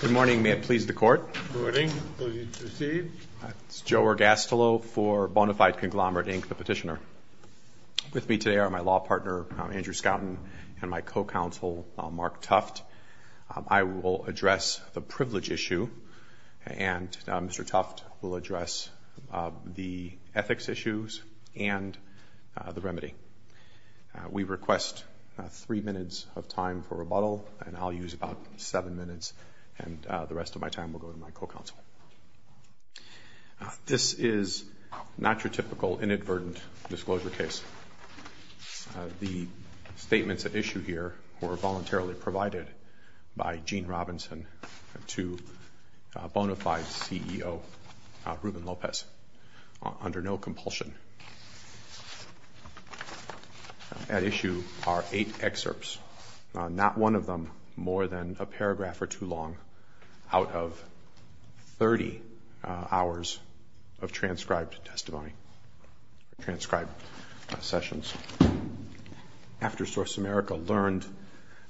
Good morning. May it please the Court. Good morning. Please proceed. It's Joe Ergastolo for Bona Fide Conglomerate, Inc., the petitioner. With me today are my law partner, Andrew Skouten, and my co-counsel, Mark Tuft. I will address the privilege issue, and Mr. Tuft will address the ethics issues and the remedy. We request three minutes of time for rebuttal, and I'll use about seven minutes, and the rest of my time will go to my co-counsel. This is not your typical inadvertent disclosure case. The statements at issue here were voluntarily provided by Gene Robinson to Bona Fide CEO Ruben Lopez under no compulsion. At issue are eight excerpts, not one of them more than a paragraph or too long, out of 30 hours of transcribed testimony, transcribed sessions. After Source America learned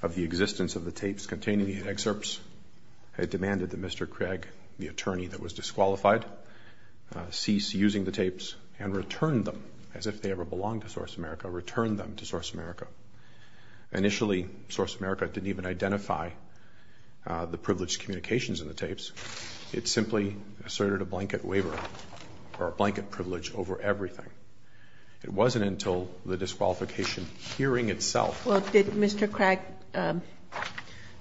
of the existence of the tapes containing the excerpts, had demanded that Mr. Craig, the attorney that was disqualified, cease using the tapes and return them as if they ever belonged to Source America, return them to Source America. Initially, Source America didn't even identify the privileged communications in the tapes. It simply asserted a blanket waiver or a blanket privilege over everything. It wasn't until the disqualification hearing itself. Well, did Mr. Craig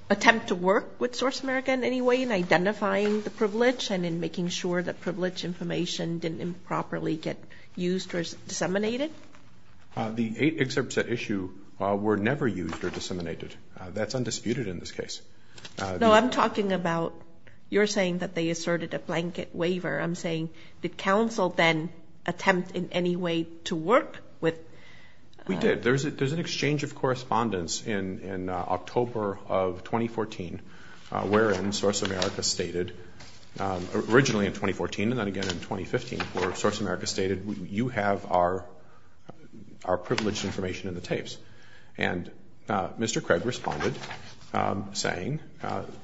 attempt to work with Source America in any way in identifying the privilege and in making sure that privilege information didn't improperly get used or disseminated? The eight excerpts at issue were never used or disseminated. That's undisputed in this case. No, I'm talking about you're saying that they asserted a blanket waiver. I'm saying did counsel then attempt in any way to work with? We did. There's an exchange of correspondence in October of 2014 wherein Source America stated originally in 2014 and then again in 2015 where Source America stated you have our privileged information in the tapes. And Mr. Craig responded saying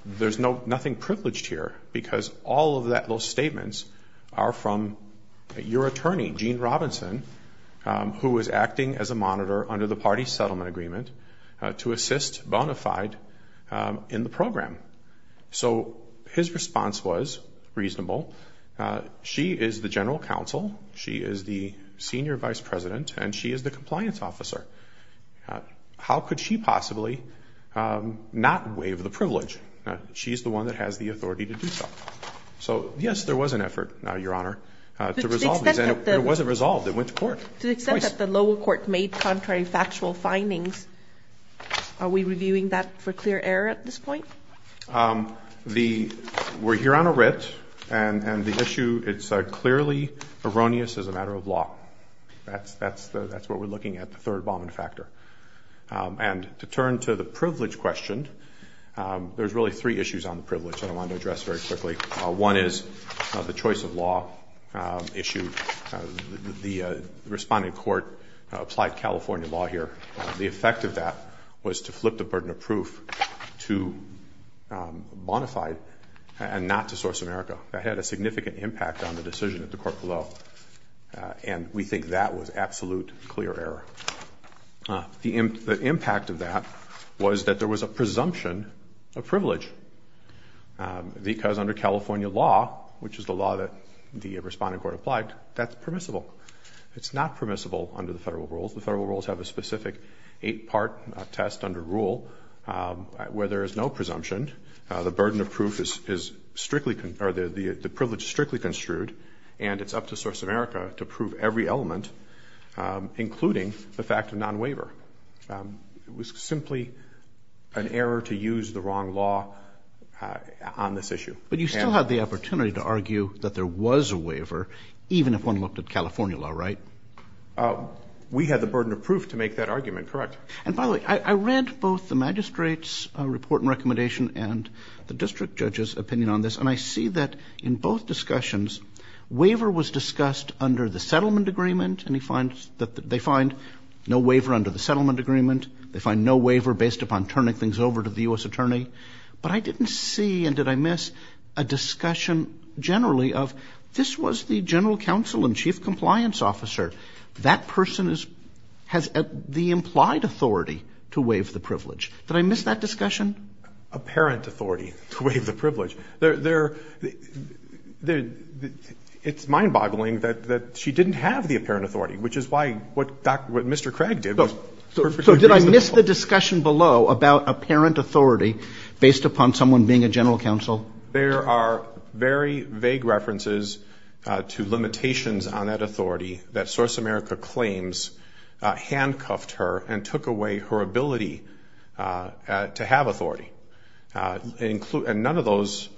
there's nothing privileged here because all of those statements are from your attorney, Gene Robinson, who was acting as a monitor under the party settlement agreement to assist bona fide in the program. So his response was reasonable. She is the general counsel. She is the senior vice president. And she is the compliance officer. How could she possibly not waive the privilege? She's the one that has the authority to do so. So, yes, there was an effort, Your Honor, to resolve this. It wasn't resolved. It went to court. To the extent that the lower court made contrary factual findings, are we reviewing that for clear error at this point? We're here on a writ, and the issue, it's clearly erroneous as a matter of law. That's what we're looking at, the third bombing factor. And to turn to the privilege question, there's really three issues on the privilege that I want to address very quickly. One is the choice of law issue. The responding court applied California law here. The effect of that was to flip the burden of proof to bona fide and not to Source America. That had a significant impact on the decision of the court below, and we think that was absolute clear error. The impact of that was that there was a presumption of privilege because under California law, which is the law that the responding court applied, that's permissible. It's not permissible under the federal rules. The federal rules have a specific eight-part test under rule where there is no presumption. The burden of proof is strictly, or the privilege is strictly construed, and it's up to Source America to prove every element, including the fact of non-waiver. It was simply an error to use the wrong law on this issue. But you still had the opportunity to argue that there was a waiver, even if one looked at California law, right? We had the burden of proof to make that argument correct. And by the way, I read both the magistrate's report and recommendation and the district judge's opinion on this, and I see that in both discussions, waiver was discussed under the settlement agreement, and they find no waiver under the settlement agreement. They find no waiver based upon turning things over to the U.S. attorney. But I didn't see, and did I miss, a discussion generally of this was the general counsel and chief compliance officer. That person has the implied authority to waive the privilege. Did I miss that discussion? Apparent authority to waive the privilege. It's mind-boggling that she didn't have the apparent authority, which is why what Mr. Craig did was perfectly reasonable. So did I miss the discussion below about apparent authority based upon someone being a general counsel? There are very vague references to limitations on that authority that Source America claims handcuffed her and took away her ability to have authority. And none of those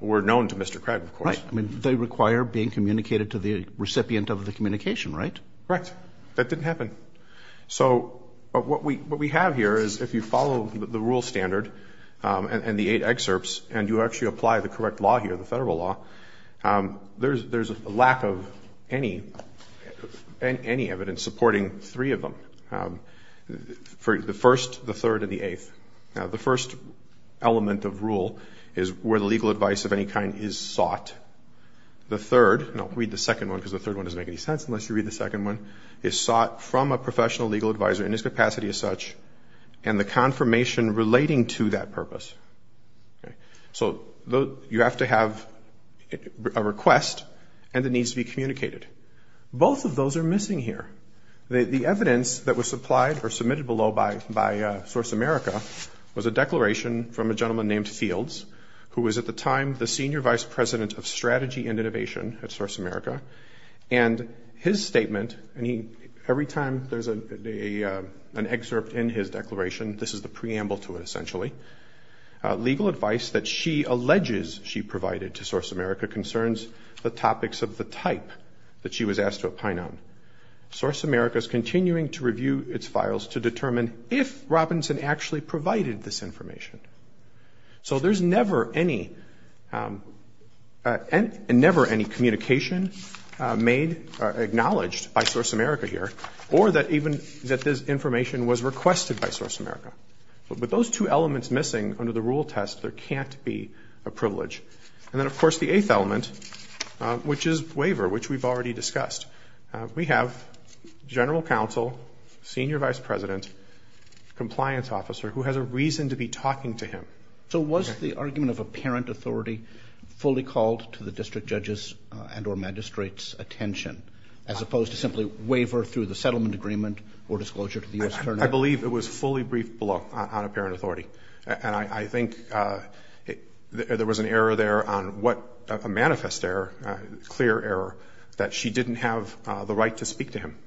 were known to Mr. Craig, of course. Right. I mean, they require being communicated to the recipient of the communication, right? Correct. That didn't happen. So what we have here is if you follow the rule standard and the eight excerpts and you actually apply the correct law here, the federal law, there's a lack of any evidence supporting three of them, the first, the third, and the eighth. Now, the first element of rule is where the legal advice of any kind is sought. The third, and I'll read the second one because the third one doesn't make any sense unless you read the second one, is sought from a professional legal advisor in his capacity as such and the confirmation relating to that purpose. So you have to have a request and it needs to be communicated. Both of those are missing here. The evidence that was supplied or submitted below by Source America was a declaration from a gentleman named Fields, who was at the time the senior vice president of strategy and innovation at Source America, and his statement, and every time there's an excerpt in his declaration, this is the preamble to it essentially, legal advice that she alleges she provided to Source America concerns the topics of the type that she was asked to opine on. Source America is continuing to review its files to determine if Robinson actually provided this information. So there's never any communication made, acknowledged by Source America here, or that even that this information was requested by Source America. With those two elements missing under the rule test, there can't be a privilege. And then, of course, the eighth element, which is waiver, which we've already discussed. We have general counsel, senior vice president, compliance officer who has a reason to be talking to him. So was the argument of apparent authority fully called to the district judge's and or magistrate's attention, as opposed to simply waiver through the settlement agreement or disclosure to the U.S. Attorney? I believe it was fully briefed below on apparent authority. And I think there was an error there on what a manifest error, clear error, that she didn't have the right to speak to him.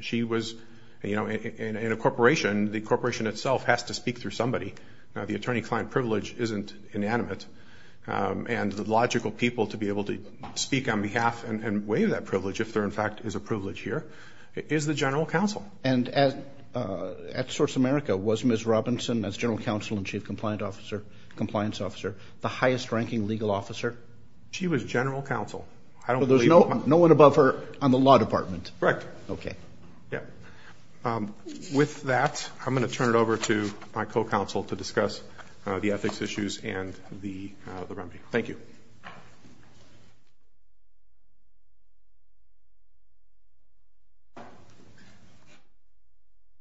She was, you know, in a corporation, the corporation itself has to speak through somebody. The attorney-client privilege isn't inanimate. And the logical people to be able to speak on behalf and waive that privilege, if there in fact is a privilege here, is the general counsel. And at Source America, was Ms. Robinson, as general counsel and chief compliance officer, the highest ranking legal officer? She was general counsel. So there's no one above her on the law department? Correct. Okay. Yeah. With that, I'm going to turn it over to my co-counsel to discuss the ethics issues and the remedy. Thank you.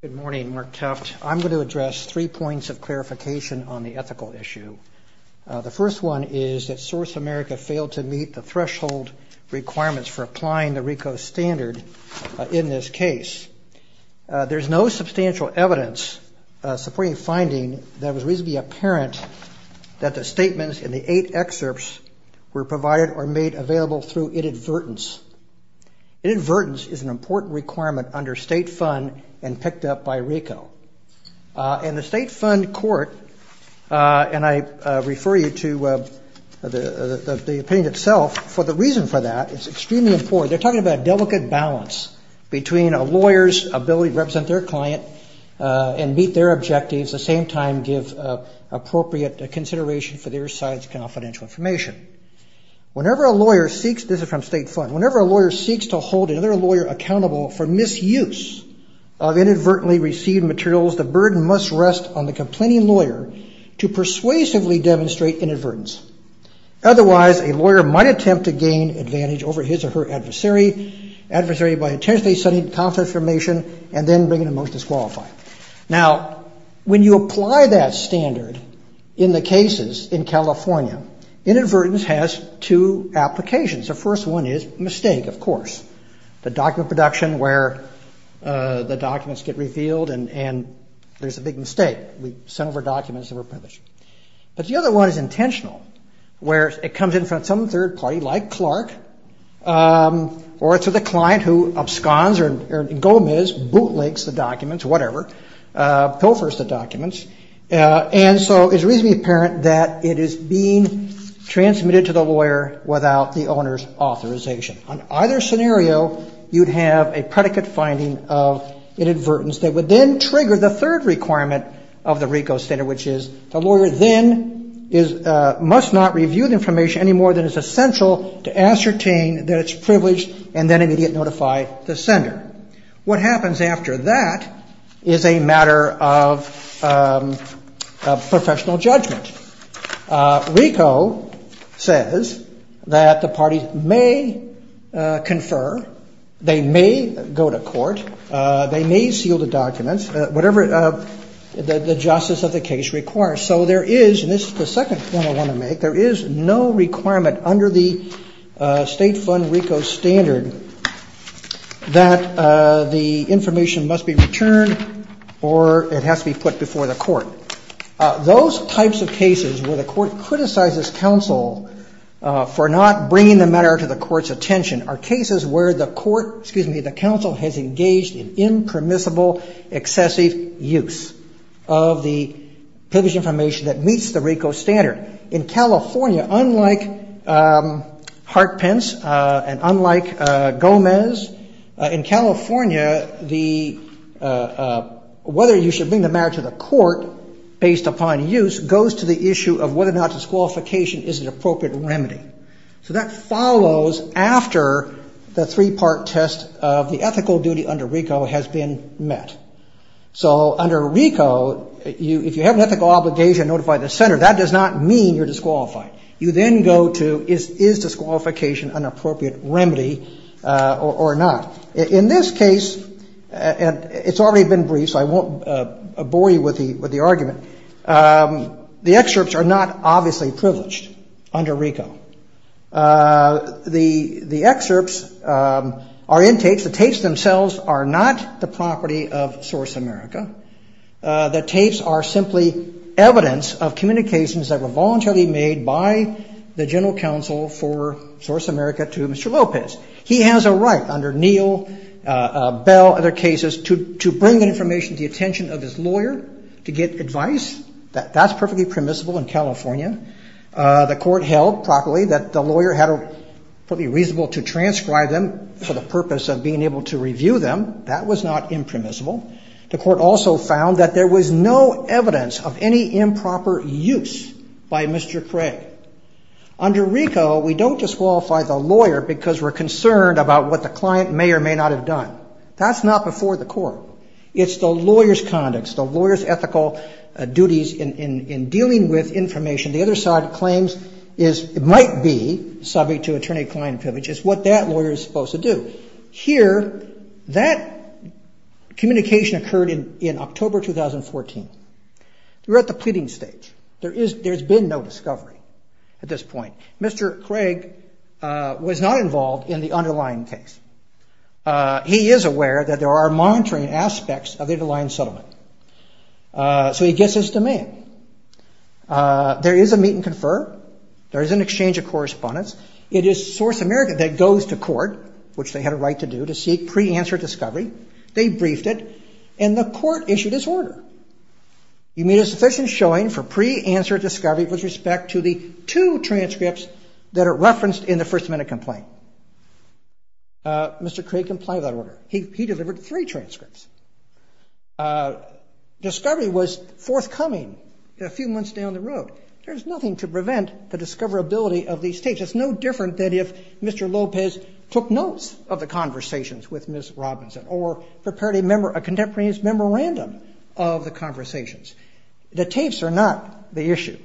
Good morning, Mark Keft. I'm going to address three points of clarification on the ethical issue. The first one is that Source America failed to meet the threshold requirements for applying the RICO standard in this case. There's no substantial evidence supporting finding that it was reasonably apparent that the statements in the eight excerpts were provided or made available through inadvertence. Inadvertence is an important requirement under state fund and picked up by RICO. In the state fund court, and I refer you to the opinion itself, for the reason for that, it's extremely important. They're talking about a delicate balance between a lawyer's ability to represent their client and meet their objectives, at the same time give appropriate consideration for their side's confidential information. Whenever a lawyer seeks, this is from state fund, whenever a lawyer seeks to hold another lawyer accountable for misuse of inadvertently received materials, the burden must rest on the complaining lawyer to persuasively demonstrate inadvertence. Otherwise, a lawyer might attempt to gain advantage over his or her adversary, adversary by intentionally sending confidential information and then bringing a motion to disqualify. Now, when you apply that standard in the cases in California, inadvertence has two applications. The first one is mistake, of course. The document production where the documents get revealed and there's a big mistake. We sent over documents that were published. But the other one is intentional, where it comes in from some third party, like Clark, or it's with a client who absconds or Gomez bootlegs the documents, whatever, pilfers the documents. And so it's reasonably apparent that it is being transmitted to the lawyer without the owner's authorization. On either scenario, you'd have a predicate finding of inadvertence that would then trigger the third requirement of the RICO standard, which is the lawyer then must not review the information any more than is essential to ascertain that it's privileged and then immediately notify the sender. What happens after that is a matter of professional judgment. RICO says that the parties may confer. They may go to court. They may seal the documents. Whatever the justice of the case requires. So there is, and this is the second point I want to make, there is no requirement under the state fund RICO standard that the information must be returned or it has to be put before the court. Those types of cases where the court criticizes counsel for not bringing the matter to the court's attention are cases where the court, excuse me, the counsel has engaged in impermissible excessive use of the privileged information that meets the RICO standard. In California, unlike Hart Pence and unlike Gomez, in California, whether you should bring the matter to the court based upon use goes to the issue of whether or not disqualification is an appropriate remedy. So that follows after the three-part test of the ethical duty under RICO has been met. So under RICO, if you have an ethical obligation to notify the sender, that does not mean you're disqualified. You then go to is disqualification an appropriate remedy or not. In this case, and it's already been briefed so I won't bore you with the argument, the excerpts are not obviously privileged under RICO. The excerpts are in tapes. The tapes themselves are not the property of Source America. The tapes are simply evidence of communications that were voluntarily made by the general counsel for Source America to Mr. Lopez. He has a right under Neal, Bell, other cases to bring information to the attention of his lawyer to get advice. That's perfectly permissible in California. The court held properly that the lawyer had a reasonable to transcribe them for the purpose of being able to review them. That was not impermissible. The court also found that there was no evidence of any improper use by Mr. Craig. Under RICO, we don't disqualify the lawyer because we're concerned about what the client may or may not have done. That's not before the court. It's the lawyer's conduct. It's the lawyer's ethical duties in dealing with information. The other side of claims is it might be subject to attorney-client privilege. It's what that lawyer is supposed to do. Here, that communication occurred in October 2014. We're at the pleading stage. There's been no discovery at this point. Mr. Craig was not involved in the underlying case. He is aware that there are monitoring aspects of the underlying settlement. So he gets his demand. There is a meet and confer. There is an exchange of correspondence. It is Source America that goes to court, which they had a right to do, to seek pre-answered discovery. They briefed it, and the court issued its order. You made a sufficient showing for pre-answered discovery with respect to the two transcripts that are referenced in the First Amendment complaint. Mr. Craig complied with that order. He delivered three transcripts. Discovery was forthcoming a few months down the road. There is nothing to prevent the discoverability of these tapes. It's no different than if Mr. Lopez took notes of the conversations with Ms. Robinson or prepared a contemporaneous memorandum of the conversations. The tapes are not the issue.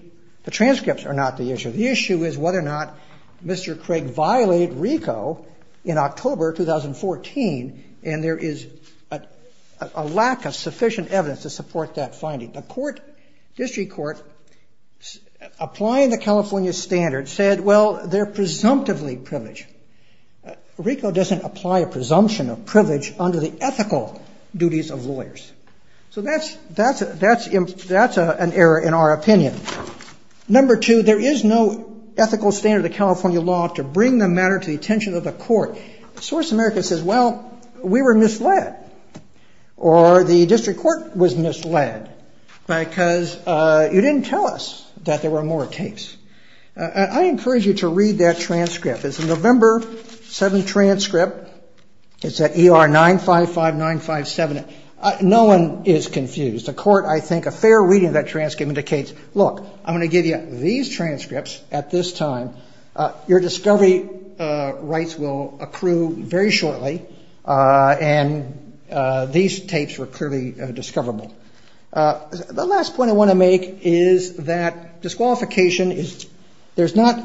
The transcripts are not the issue. The issue is whether or not Mr. Craig violated RICO in October 2014, and there is a lack of sufficient evidence to support that finding. The district court, applying the California standard, said, well, they're presumptively privileged. RICO doesn't apply a presumption of privilege under the ethical duties of lawyers. So that's an error in our opinion. Number two, there is no ethical standard of California law to bring the matter to the attention of the court. The source of America says, well, we were misled, or the district court was misled, because you didn't tell us that there were more tapes. I encourage you to read that transcript. It's a November 7 transcript. It's at ER 955957. No one is confused. The court, I think, a fair reading of that transcript indicates, look, I'm going to give you these transcripts at this time. Your discovery rights will accrue very shortly, and these tapes were clearly discoverable. The last point I want to make is that disqualification is – there's not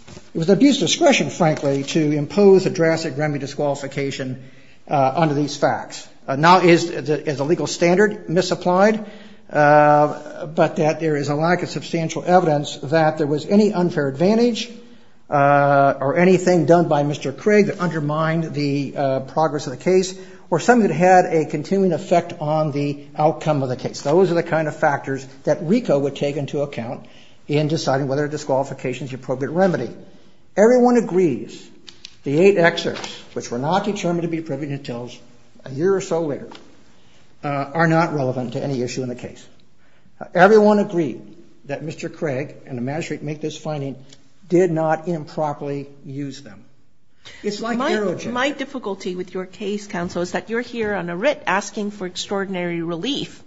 – it was abuse of discretion, frankly, to impose a drastic remedy disqualification under these facts. Now, is the legal standard misapplied? But that there is a lack of substantial evidence that there was any unfair advantage or anything done by Mr. Craig that undermined the progress of the case, or something that had a continuing effect on the outcome of the case. Those are the kind of factors that RICO would take into account in deciding whether disqualification is the appropriate remedy. Everyone agrees the eight excerpts, which were not determined to be privy details a year or so later, are not relevant to any issue in the case. Everyone agreed that Mr. Craig and the magistrate make this finding did not improperly use them. It's like Aerojet. My difficulty with your case, counsel, is that you're here on a writ asking for extraordinary relief,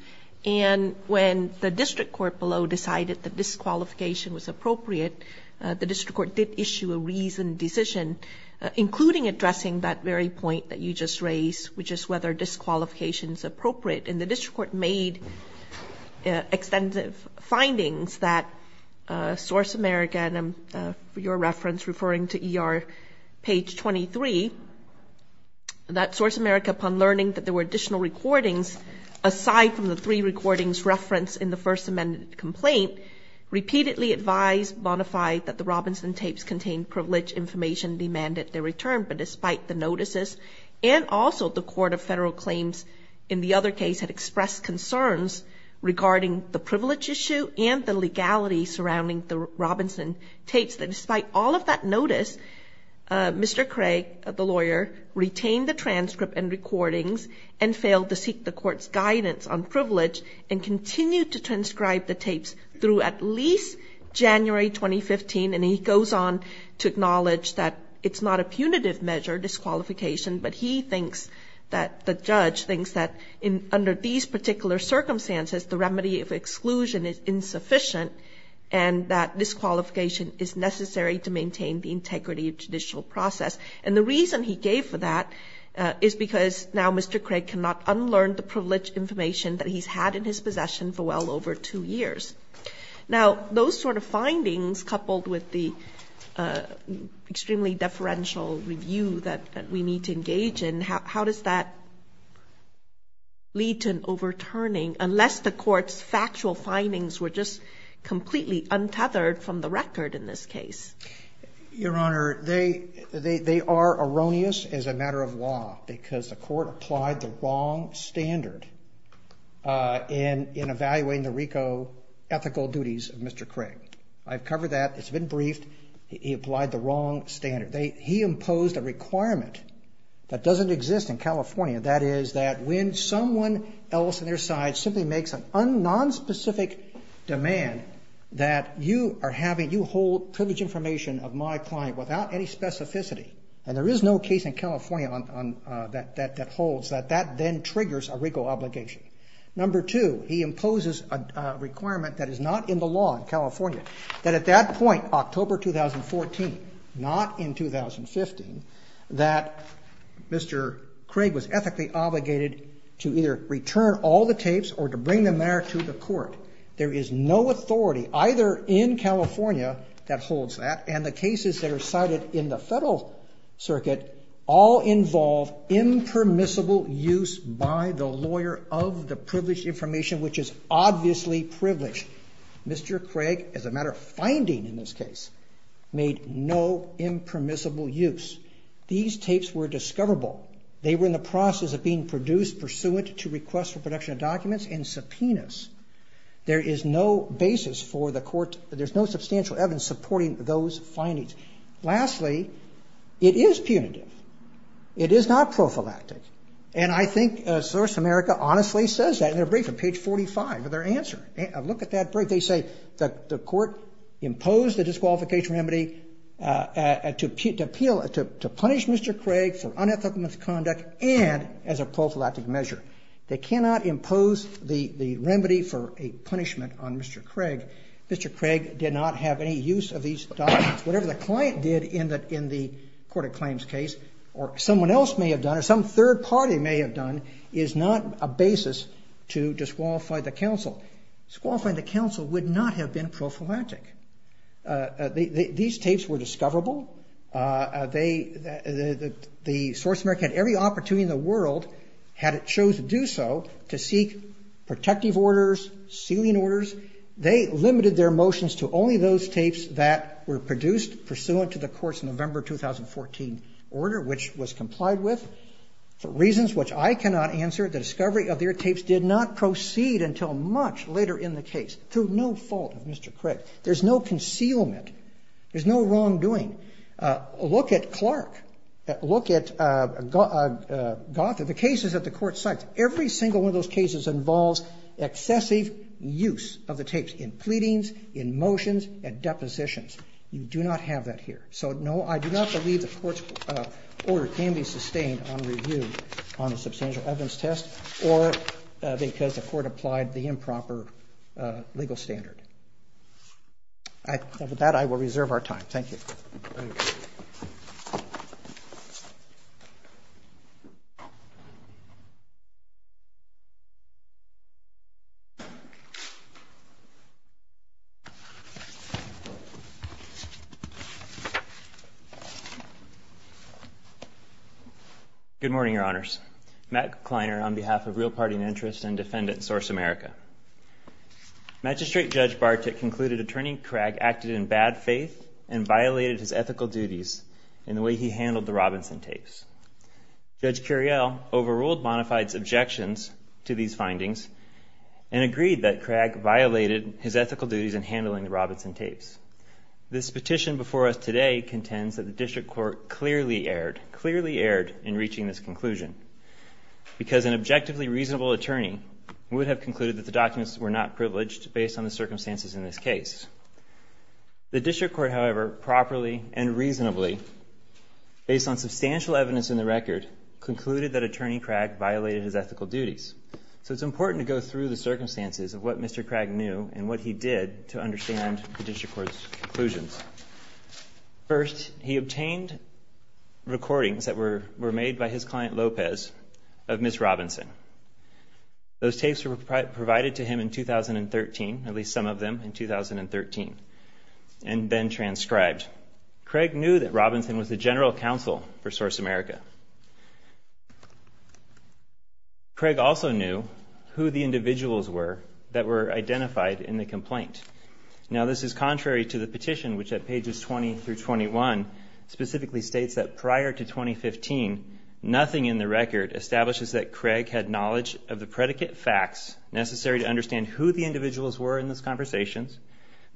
and when the district court below decided that disqualification was appropriate, the district court did issue a reasoned decision, including addressing that very point that you just raised, which is whether disqualification is appropriate. And the district court made extensive findings that Source America – and I'm, for your reference, referring to ER page 23 – that Source America, upon learning that there were additional recordings, aside from the three recordings referenced in the First Amendment complaint, repeatedly advised, bona fide, that the Robinson tapes contained privileged information demanded their return. But despite the notices, and also the court of federal claims in the other case had expressed concerns regarding the privilege issue and the legality surrounding the Robinson tapes, that despite all of that notice, Mr. Craig, the lawyer, retained the transcript and recordings and failed to seek the court's guidance on privilege and continued to transcribe the tapes through at least January 2015. And he goes on to acknowledge that it's not a punitive measure, disqualification, but he thinks that the judge thinks that under these particular circumstances, the remedy of exclusion is insufficient and that disqualification is necessary to maintain the integrity of judicial process. And the reason he gave for that is because now Mr. Craig cannot unlearn the privileged information that he's had in his possession for well over two years. Now, those sort of findings, coupled with the extremely deferential review that we need to engage in, how does that lead to an overturning unless the court's factual findings were just completely untethered from the record in this case? Your Honor, they are erroneous as a matter of law because the court applied the wrong standard in evaluating the RICO ethical duties of Mr. Craig. I've covered that. It's been briefed. He applied the wrong standard. He imposed a requirement that doesn't exist in California, that is that when someone else on their side simply makes a nonspecific demand that you are having, you hold privilege information of my client without any specificity, and there is no case in California that holds that that then triggers a RICO obligation. Number two, he imposes a requirement that is not in the law in California, that at that point, October 2014, not in 2015, that Mr. Craig was ethically obligated to either return all the tapes or to bring them there to the court. There is no authority either in California that holds that, and the cases that are cited in the federal circuit all involve impermissible use by the lawyer of the privileged information, which is obviously privileged. Mr. Craig, as a matter of finding in this case, made no impermissible use. These tapes were discoverable. They were in the process of being produced pursuant to request for production of documents and subpoenas. There is no basis for the court. There's no substantial evidence supporting those findings. Lastly, it is punitive. It is not prophylactic, and I think Source America honestly says that in their briefing, page 45 of their answer. Look at that brief. They say the court imposed a disqualification remedy to punish Mr. Craig for unethical misconduct and as a prophylactic measure. They cannot impose the remedy for a punishment on Mr. Craig. Mr. Craig did not have any use of these documents. Whatever the client did in the court of claims case or someone else may have done or some third party may have done is not a basis to disqualify the counsel. Disqualifying the counsel would not have been prophylactic. These tapes were discoverable. The Source America had every opportunity in the world, had it chose to do so, to seek protective orders, sealing orders. They limited their motions to only those tapes that were produced pursuant to the court's November 2014 order, which was complied with. For reasons which I cannot answer, the discovery of their tapes did not proceed until much later in the case, through no fault of Mr. Craig. There's no concealment. There's no wrongdoing. Look at Clark. Look at Goethe. Look at the cases that the court cites. Every single one of those cases involves excessive use of the tapes in pleadings, in motions, and depositions. You do not have that here. So, no, I do not believe the court's order can be sustained on review on a substantial evidence test or because the court applied the improper legal standard. With that, I will reserve our time. Thank you. Thank you. Good morning, Your Honors. Matt Kleiner on behalf of Real Party and Interest and Defendant Source America. Magistrate Judge Bartik concluded Attorney Craig acted in bad faith and violated his ethical duties in the way he handled the Robinson tapes. Judge Curiel overruled Bonafide's objections to these findings and agreed that Craig violated his ethical duties in handling the Robinson tapes. This petition before us today contends that the district court clearly erred, clearly erred in reaching this conclusion, because an objectively reasonable attorney would have concluded that the documents were not privileged based on the circumstances in this case. The district court, however, properly and reasonably, based on substantial evidence in the record, concluded that Attorney Craig violated his ethical duties. So it's important to go through the circumstances of what Mr. Craig knew and what he did to understand the district court's conclusions. First, he obtained recordings that were made by his client Lopez of Ms. Robinson. Those tapes were provided to him in 2013, at least some of them in 2013, and then transcribed. Craig knew that Robinson was the general counsel for Source America. Craig also knew who the individuals were that were identified in the complaint. Now, this is contrary to the petition, which at pages 20 through 21 specifically states that prior to 2015, nothing in the record establishes that Craig had knowledge of the predicate facts necessary to understand who the individuals were in those conversations,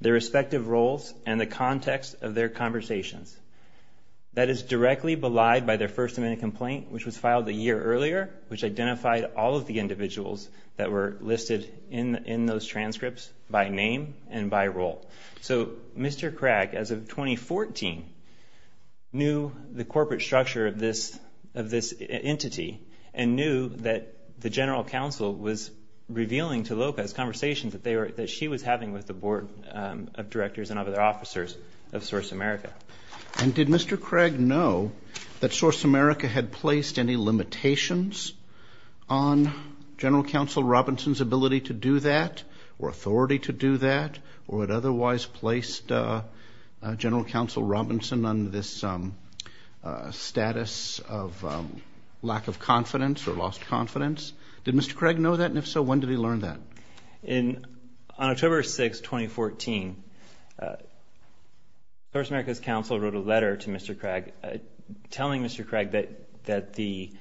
their respective roles, and the context of their conversations. That is directly belied by their First Amendment complaint, which was filed a year earlier, which identified all of the individuals that were listed in those transcripts by name and by role. So Mr. Craig, as of 2014, knew the corporate structure of this entity and knew that the general counsel was revealing to Lopez conversations that she was having with the board of directors and other officers of Source America. And did Mr. Craig know that Source America had placed any limitations on General Counsel Robinson's ability to do that or authority to do that or had otherwise placed General Counsel Robinson on this status of lack of confidence or lost confidence? Did Mr. Craig know that? And if so, when did he learn that? On October 6, 2014, Source America's counsel wrote a letter to Mr. Craig telling Mr. Craig that the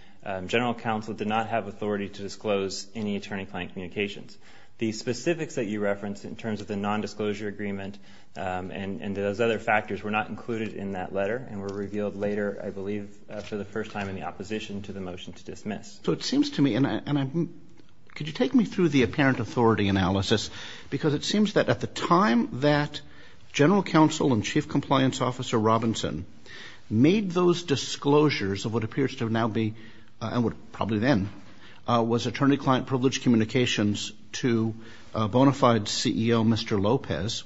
general counsel did not have authority to disclose any attorney-client communications. The specifics that you referenced in terms of the nondisclosure agreement and those other factors were not included in that letter and were revealed later, I believe, for the first time in the opposition to the motion to dismiss. So it seems to me, and could you take me through the apparent authority analysis? Because it seems that at the time that General Counsel and Chief Compliance Officer Robinson made those disclosures of what appears to now be and would probably then was attorney-client privileged communications to bona fide CEO Mr. Lopez,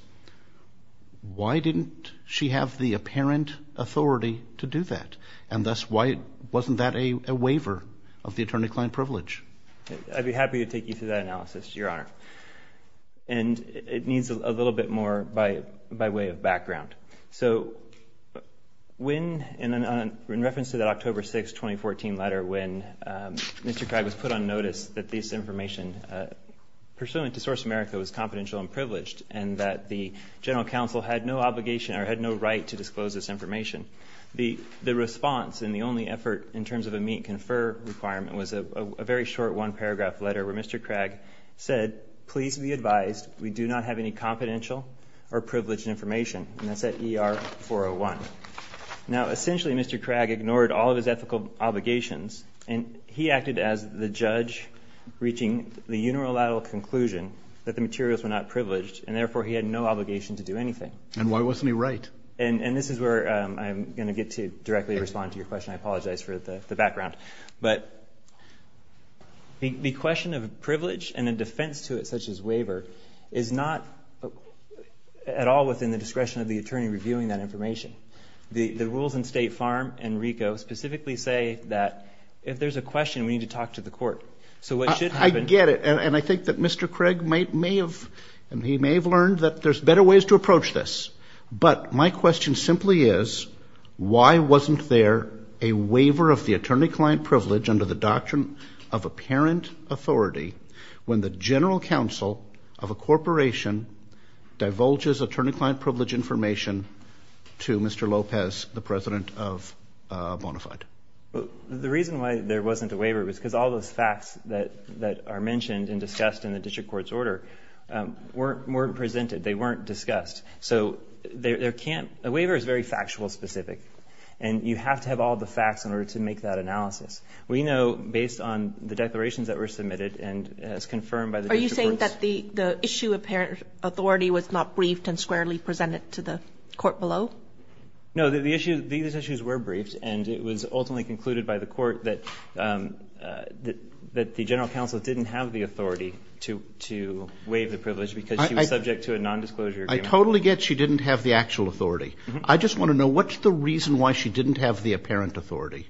why didn't she have the apparent authority to do that? And thus, why wasn't that a waiver of the attorney-client privilege? I'd be happy to take you through that analysis, Your Honor. And it needs a little bit more by way of background. So when, in reference to that October 6, 2014 letter when Mr. Craig was put on notice that this information pursuant to Source America was confidential and privileged and that the general counsel had no obligation or had no right to disclose this information, the response and the only effort in terms of a meet-confer requirement was a very short one-paragraph letter where Mr. Craig said, please be advised, we do not have any confidential or privileged information. And that's at ER 401. Now, essentially, Mr. Craig ignored all of his ethical obligations, and he acted as the judge reaching the unilateral conclusion that the materials were not privileged, and therefore he had no obligation to do anything. And why wasn't he right? And this is where I'm going to get to directly respond to your question. I apologize for the background. But the question of privilege and a defense to it, such as waiver, is not at all within the discretion of the attorney reviewing that information. The rules in State Farm and RICO specifically say that if there's a question, we need to talk to the court. So what should happen to the court? I get it. And I think that Mr. Craig may have learned that there's better ways to approach this. But my question simply is, why wasn't there a waiver of the attorney-client privilege under the doctrine of apparent authority when the general counsel of a corporation divulges attorney-client privilege information to Mr. Lopez, the president of Bonafide? The reason why there wasn't a waiver was because all those facts that are mentioned and discussed in the district court's order weren't presented. They weren't discussed. So a waiver is very factual specific, and you have to have all the facts in order to make that analysis. We know based on the declarations that were submitted and as confirmed by the district courts. Are you saying that the issue of apparent authority was not briefed and squarely presented to the court below? No, these issues were briefed, and it was ultimately concluded by the court that the general counsel didn't have the authority to waive the privilege because she was subject to a nondisclosure agreement. I totally get she didn't have the actual authority. I just want to know, what's the reason why she didn't have the apparent authority?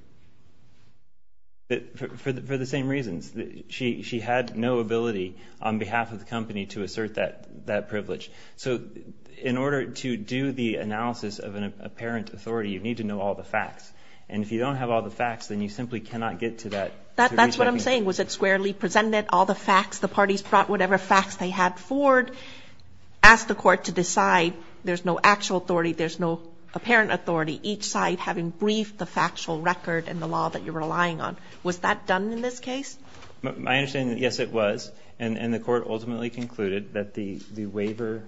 For the same reasons. She had no ability on behalf of the company to assert that privilege. So in order to do the analysis of an apparent authority, you need to know all the facts. And if you don't have all the facts, then you simply cannot get to that. That's what I'm saying. Was it squarely presented, all the facts, the parties brought whatever facts they had forward, asked the court to decide there's no actual authority, there's no apparent authority, each side having briefed the factual record and the law that you're relying on. Was that done in this case? I understand that, yes, it was. And the court ultimately concluded that the waiver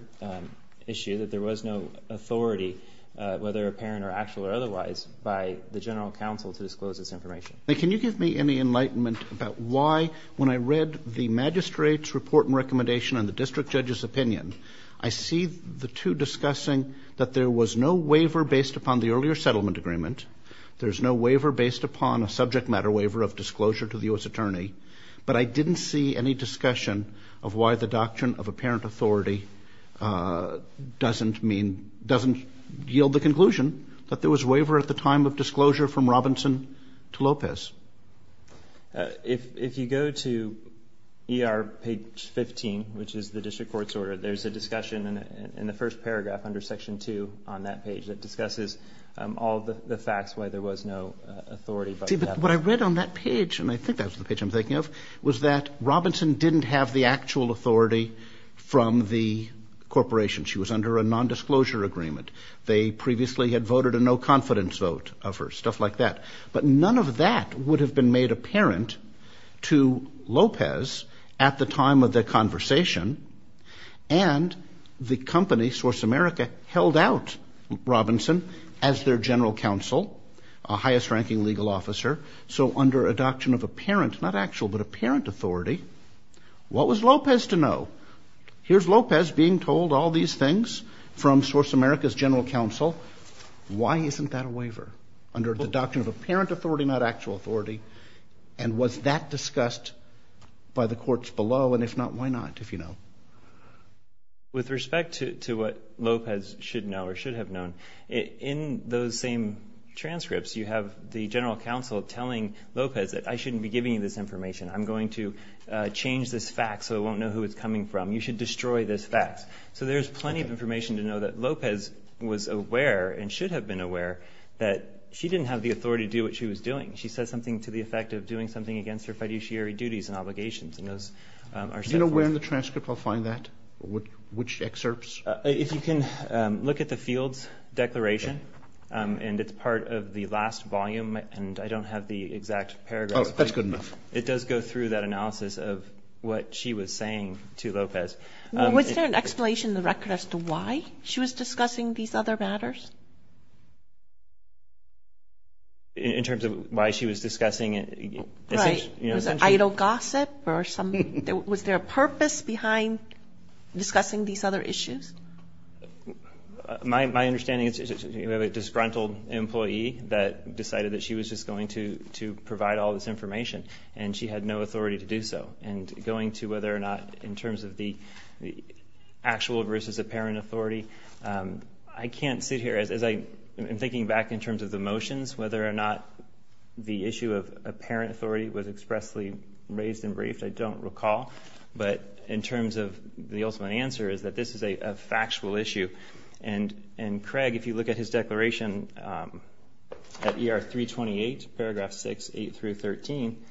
issue, that there was no authority, whether apparent or actual or otherwise, by the general counsel to disclose this information. Now, can you give me any enlightenment about why, when I read the magistrate's report and recommendation and the district judge's opinion, I see the two discussing that there was no waiver based upon the earlier settlement agreement, there's no waiver based upon a subject matter waiver of disclosure to the U.S. attorney, but I didn't see any discussion of why the doctrine of apparent authority doesn't mean, doesn't yield the conclusion that there was waiver at the time of disclosure from Robinson to Lopez. If you go to ER page 15, which is the district court's order, there's a discussion in the first paragraph under section 2 on that page that discusses all the facts why there was no authority. See, but what I read on that page, and I think that was the page I'm thinking of, was that Robinson didn't have the actual authority from the corporation. She was under a nondisclosure agreement. They previously had voted a no confidence vote of her, stuff like that. But none of that would have been made apparent to Lopez at the time of their conversation, and the company, Source America, held out Robinson as their general counsel, a highest ranking legal officer. So under a doctrine of apparent, not actual, but apparent authority, what was Lopez to know? Here's Lopez being told all these things from Source America's general counsel. Why isn't that a waiver under the doctrine of apparent authority, not actual authority? And was that discussed by the courts below? And if not, why not, if you know? With respect to what Lopez should know or should have known, in those same transcripts, you have the general counsel telling Lopez that I shouldn't be giving you this information. I'm going to change this fact so I won't know who it's coming from. You should destroy this fact. So there's plenty of information to know that Lopez was aware and should have been aware that she didn't have the authority to do what she was doing. She said something to the effect of doing something against her fiduciary duties and obligations. Do you know where in the transcript I'll find that? Which excerpts? If you can look at the Fields Declaration, and it's part of the last volume, and I don't have the exact paragraph. Oh, that's good enough. It does go through that analysis of what she was saying to Lopez. Was there an explanation in the record as to why she was discussing these other matters? In terms of why she was discussing it? Right. Was it idle gossip? Was there a purpose behind discussing these other issues? My understanding is you have a disgruntled employee that decided that she was just going to provide all this information, and she had no authority to do so. And going to whether or not in terms of the actual versus apparent authority, I can't sit here as I'm thinking back in terms of the motions, whether or not the issue of apparent authority was expressly raised and briefed, I don't recall. But in terms of the ultimate answer is that this is a factual issue. And Craig, if you look at his declaration at ER 328, paragraph 6, 8 through 13,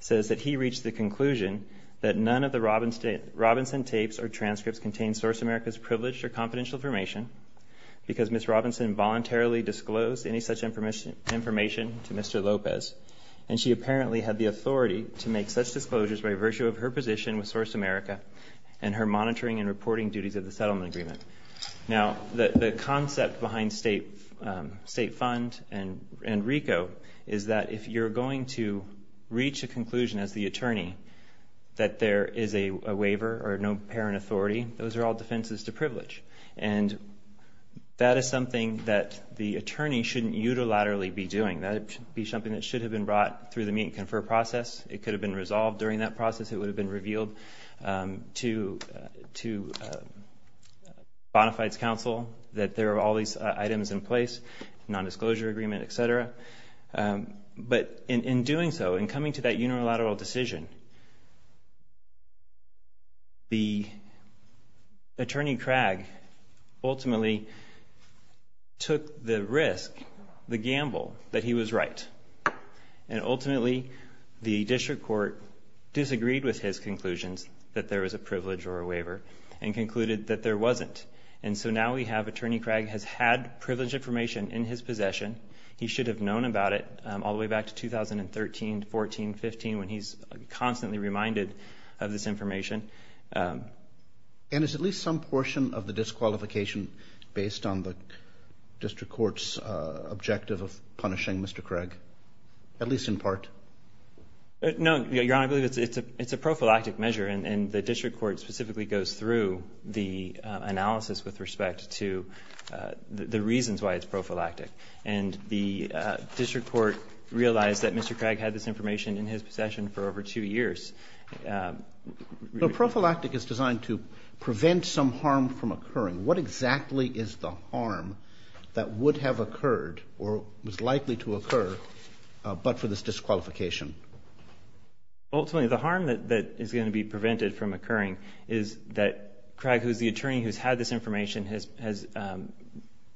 says that he reached the conclusion that none of the Robinson tapes or transcripts contained Source America's privileged or confidential information because Ms. Robinson voluntarily disclosed any such information to Mr. Lopez, and she apparently had the authority to make such disclosures by virtue of her position with Source America and her monitoring and reporting duties of the settlement agreement. Now, the concept behind state fund and RICO is that if you're going to reach a conclusion as the attorney that there is a waiver or no apparent authority, those are all defenses to privilege. And that is something that the attorney shouldn't unilaterally be doing. That should be something that should have been brought through the meet and confer process. It could have been resolved during that process. It would have been revealed to Bonafide's counsel that there are all these items in place, nondisclosure agreement, et cetera. But in doing so, in coming to that unilateral decision, the attorney, Craig, ultimately took the risk, the gamble, that he was right. And ultimately, the district court disagreed with his conclusions that there was a privilege or a waiver and concluded that there wasn't. And so now we have Attorney Craig has had privileged information in his possession. He should have known about it all the way back to 2013, 14, 15, when he's constantly reminded of this information. And is at least some portion of the disqualification based on the district court's objective of punishing Mr. Craig? At least in part? No, Your Honor. I believe it's a prophylactic measure. And the district court specifically goes through the analysis with respect to the reasons why it's prophylactic. And the district court realized that Mr. Craig had this information in his possession for over two years. So prophylactic is designed to prevent some harm from occurring. What exactly is the harm that would have occurred or was likely to occur but for this disqualification? Ultimately, the harm that is going to be prevented from occurring is that Craig, who is the attorney who has had this information, has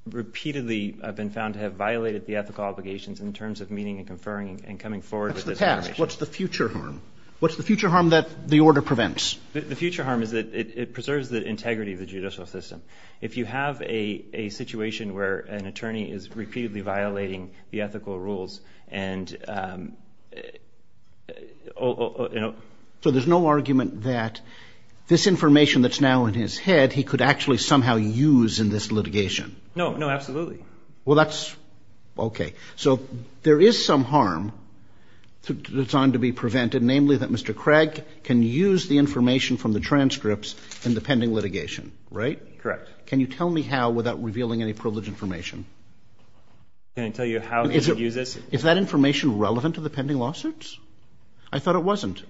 repeatedly been found to have violated the ethical obligations in terms of meeting and conferring and coming forward with this information. What's the past? What's the future harm? What's the future harm that the order prevents? The future harm is that it preserves the integrity of the judicial system. If you have a situation where an attorney is repeatedly violating the ethical rules and… So there's no argument that this information that's now in his head he could actually somehow use in this litigation? No, absolutely. Well, that's… Okay. So there is some harm that's designed to be prevented, namely that Mr. Craig can use the information from the transcripts in the pending litigation, right? Correct. Can you tell me how without revealing any privileged information? Can I tell you how he uses? Is that information relevant to the pending lawsuits? I thought it wasn't.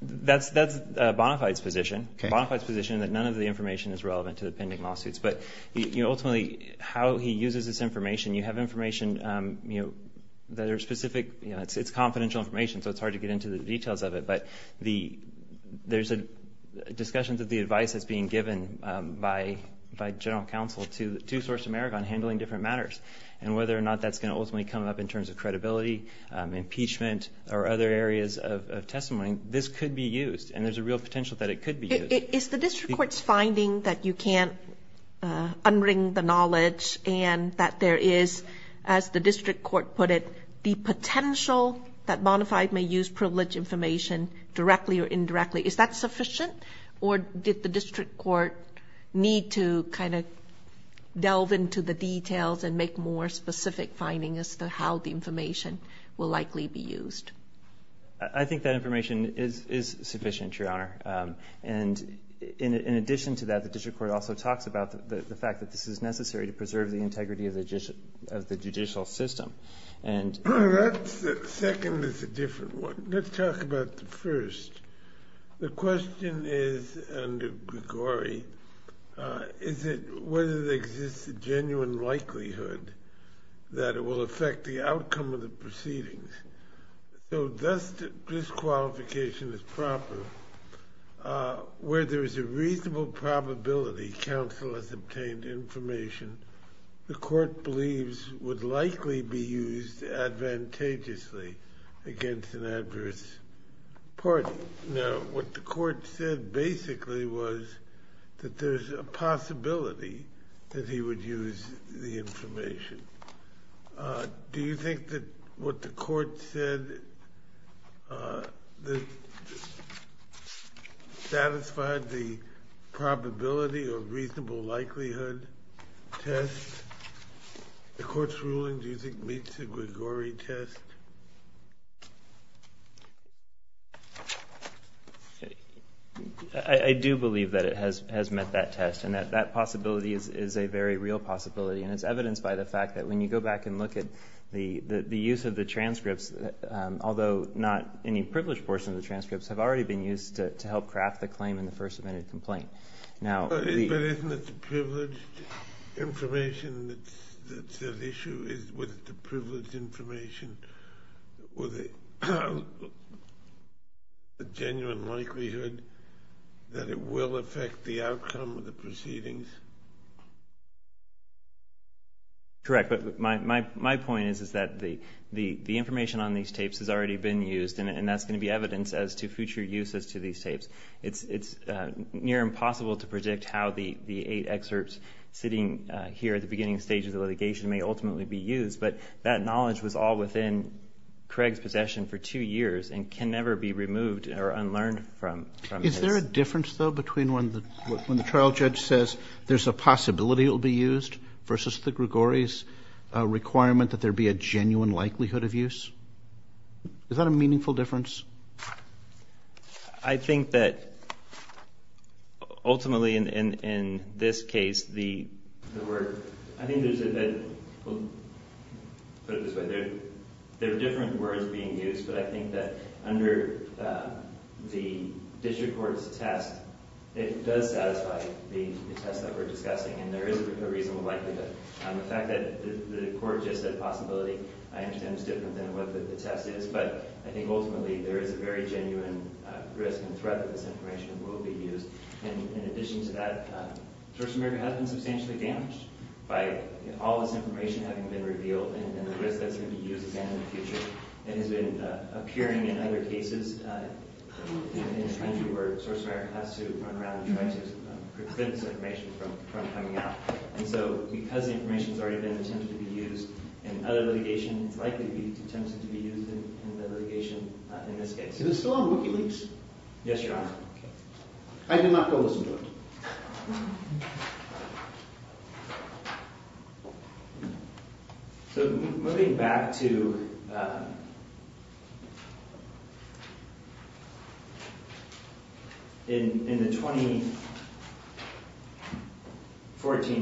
That's Bonafide's position. Okay. Bonafide's position that none of the information is relevant to the pending lawsuits. But ultimately how he uses this information, you have information that are specific. It's confidential information, so it's hard to get into the details of it. But there's discussions of the advice that's being given by general counsel to Source America on handling different matters and whether or not that's going to ultimately come up in terms of credibility, impeachment, or other areas of testimony. This could be used, and there's a real potential that it could be used. Is the district court's finding that you can't unring the knowledge and that there is, as the district court put it, the potential that Bonafide may use privileged information directly or indirectly, is that sufficient? Or did the district court need to kind of delve into the details and make more specific findings as to how the information will likely be used? I think that information is sufficient, Your Honor. And in addition to that, the district court also talks about the fact that this is necessary to preserve the integrity of the judicial system. That second is a different one. Let's talk about the first. The question is, under Grigori, is it whether there exists a genuine likelihood that it will affect the outcome of the proceedings. So this disqualification is proper. Where there is a reasonable probability counsel has obtained information, the court believes would likely be used advantageously against an adverse party. Now, what the court said basically was that there's a possibility that he would use the information. Do you think that what the court said satisfied the probability of reasonable likelihood test? The court's ruling, do you think, meets the Grigori test? I do believe that it has met that test, and that that possibility is a very real possibility. And it's evidenced by the fact that when you go back and look at the use of the transcripts, although not any privileged portion of the transcripts have already been used to help craft the claim in the first amendment complaint. But isn't it the privileged information that's at issue? Is it the privileged information with a genuine likelihood that it will affect the outcome of the proceedings? Correct. But my point is that the information on these tapes has already been used, and that's going to be evidence as to future uses to these tapes. It's near impossible to predict how the eight excerpts sitting here at the beginning stages of litigation may ultimately be used. But that knowledge was all within Craig's possession for two years and can never be removed or unlearned from his. Is there a difference, though, between when the trial judge says there's a possibility it will be used versus the Grigori's requirement that there be a genuine likelihood of use? Is that a meaningful difference? I think that ultimately, in this case, the word – I think there's a – put it this way. There are different words being used, but I think that under the district court's test, it does satisfy the test that we're discussing, and there is a reasonable likelihood. The fact that the court just said possibility I understand is different than what the test is, but I think ultimately there is a very genuine risk and threat that this information will be used. In addition to that, Source America has been substantially damaged by all this information having been revealed and the risk that it's going to be used again in the future. It has been appearing in other cases in the country where Source America has to run around and try to prevent this information from coming out. And so because the information has already been attempted to be used in other litigation, it's likely to be attempted to be used in the litigation in this case. Is it still on WikiLeaks? Yes, Your Honor. I did not go listen to it. So moving back to – in the 2014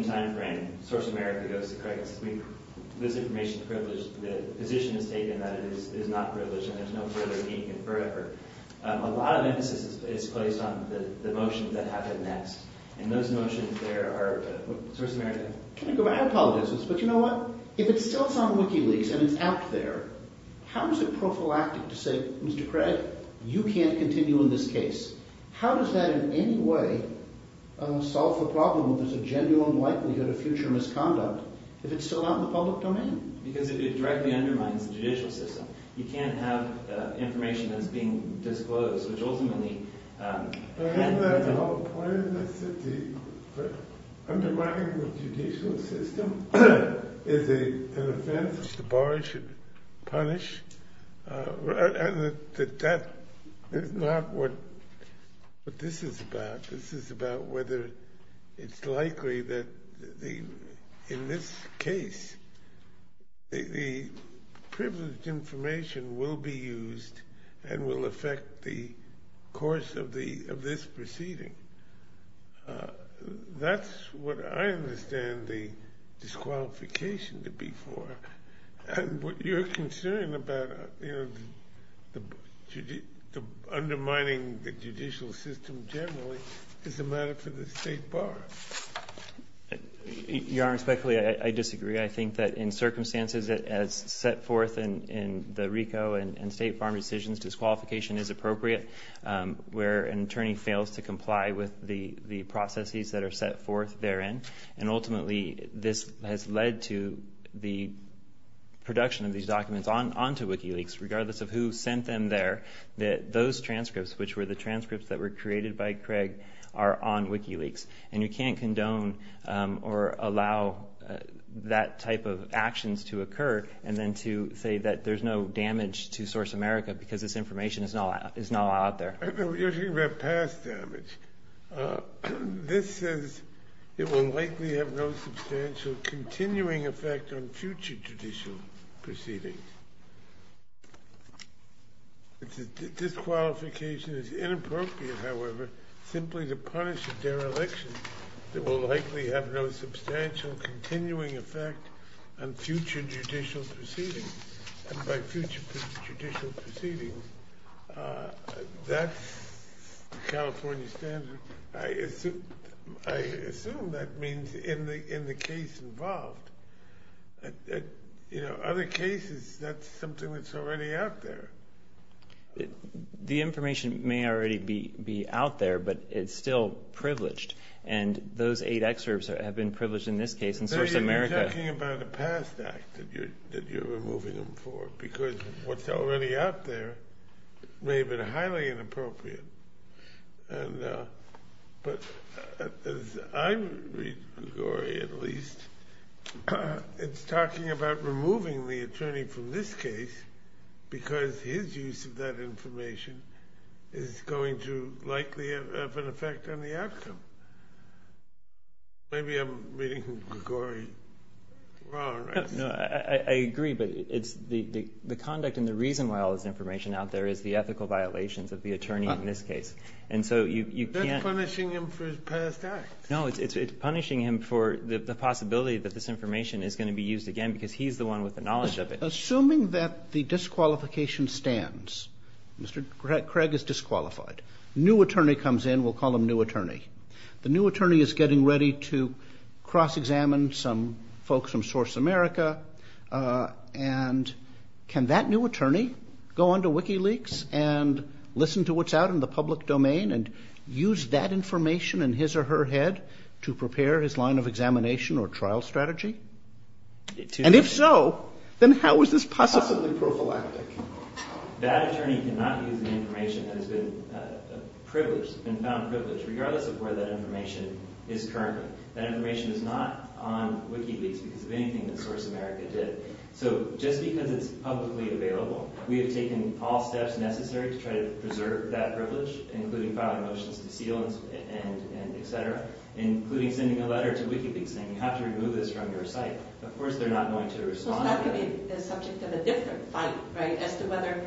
timeframe, Source America goes to Craig and says, we – this information is privileged. The position is taken that it is not privileged and there's no further need to confer it. A lot of emphasis is placed on the motions that happen next. And those motions there are – Source America, can I go back? I apologize, but you know what? If it's still on WikiLeaks and it's out there, how is it prophylactic to say, Mr. Craig, you can't continue in this case? How does that in any way solve the problem if there's a genuine likelihood of future misconduct if it's still out in the public domain? Because it directly undermines the judicial system. You can't have information that's being disclosed, which ultimately – But isn't that the whole point? That undermining the judicial system is an offense that the bar should punish? And that is not what this is about. This is about whether it's likely that the – that this information will be used and will affect the course of this proceeding. That's what I understand the disqualification to be for. And what you're concerned about, you know, undermining the judicial system generally, is the matter for the state bar. Your Honor, respectfully, I disagree. I think that in circumstances as set forth in the RICO and state farm decisions, disqualification is appropriate where an attorney fails to comply with the processes that are set forth therein. And ultimately this has led to the production of these documents onto WikiLeaks, regardless of who sent them there, that those transcripts, which were the transcripts that were created by Craig, are on WikiLeaks. And you can't condone or allow that type of actions to occur and then to say that there's no damage to Source America because this information is not allowed there. You're talking about past damage. This says it will likely have no substantial continuing effect on future judicial proceedings. Disqualification is inappropriate, however, simply to punish a dereliction that will likely have no substantial continuing effect on future judicial proceedings. And by future judicial proceedings, that's the California standard. I assume that means in the case involved. Other cases, that's something that's already out there. The information may already be out there, but it's still privileged. And those eight excerpts have been privileged in this case and Source America. So you're talking about a past act that you're removing them for because what's already out there may have been highly inappropriate. But as I read Grigori, at least, it's talking about removing the attorney from this case because his use of that information is going to likely have an effect on the outcome. Maybe I'm reading Grigori wrong. I agree, but the conduct and the reason why all this information is out there is the ethical violations of the attorney in this case. And so you can't… That's punishing him for his past acts. No, it's punishing him for the possibility that this information is going to be used again because he's the one with the knowledge of it. Assuming that the disqualification stands, Mr. Craig is disqualified. A new attorney comes in. We'll call him new attorney. The new attorney is getting ready to cross-examine some folks from Source America. And can that new attorney go onto WikiLeaks and listen to what's out in the public domain and use that information in his or her head to prepare his line of examination or trial strategy? And if so, then how is this possibly prophylactic? That attorney cannot use the information that has been found privileged, regardless of where that information is currently. That information is not on WikiLeaks because of anything that Source America did. So just because it's publicly available, we have taken all steps necessary to try to preserve that privilege, including filing motions to seal and et cetera, including sending a letter to WikiLeaks saying you have to remove this from your site. Of course they're not going to respond. So that could be the subject of a different fight, right, as to whether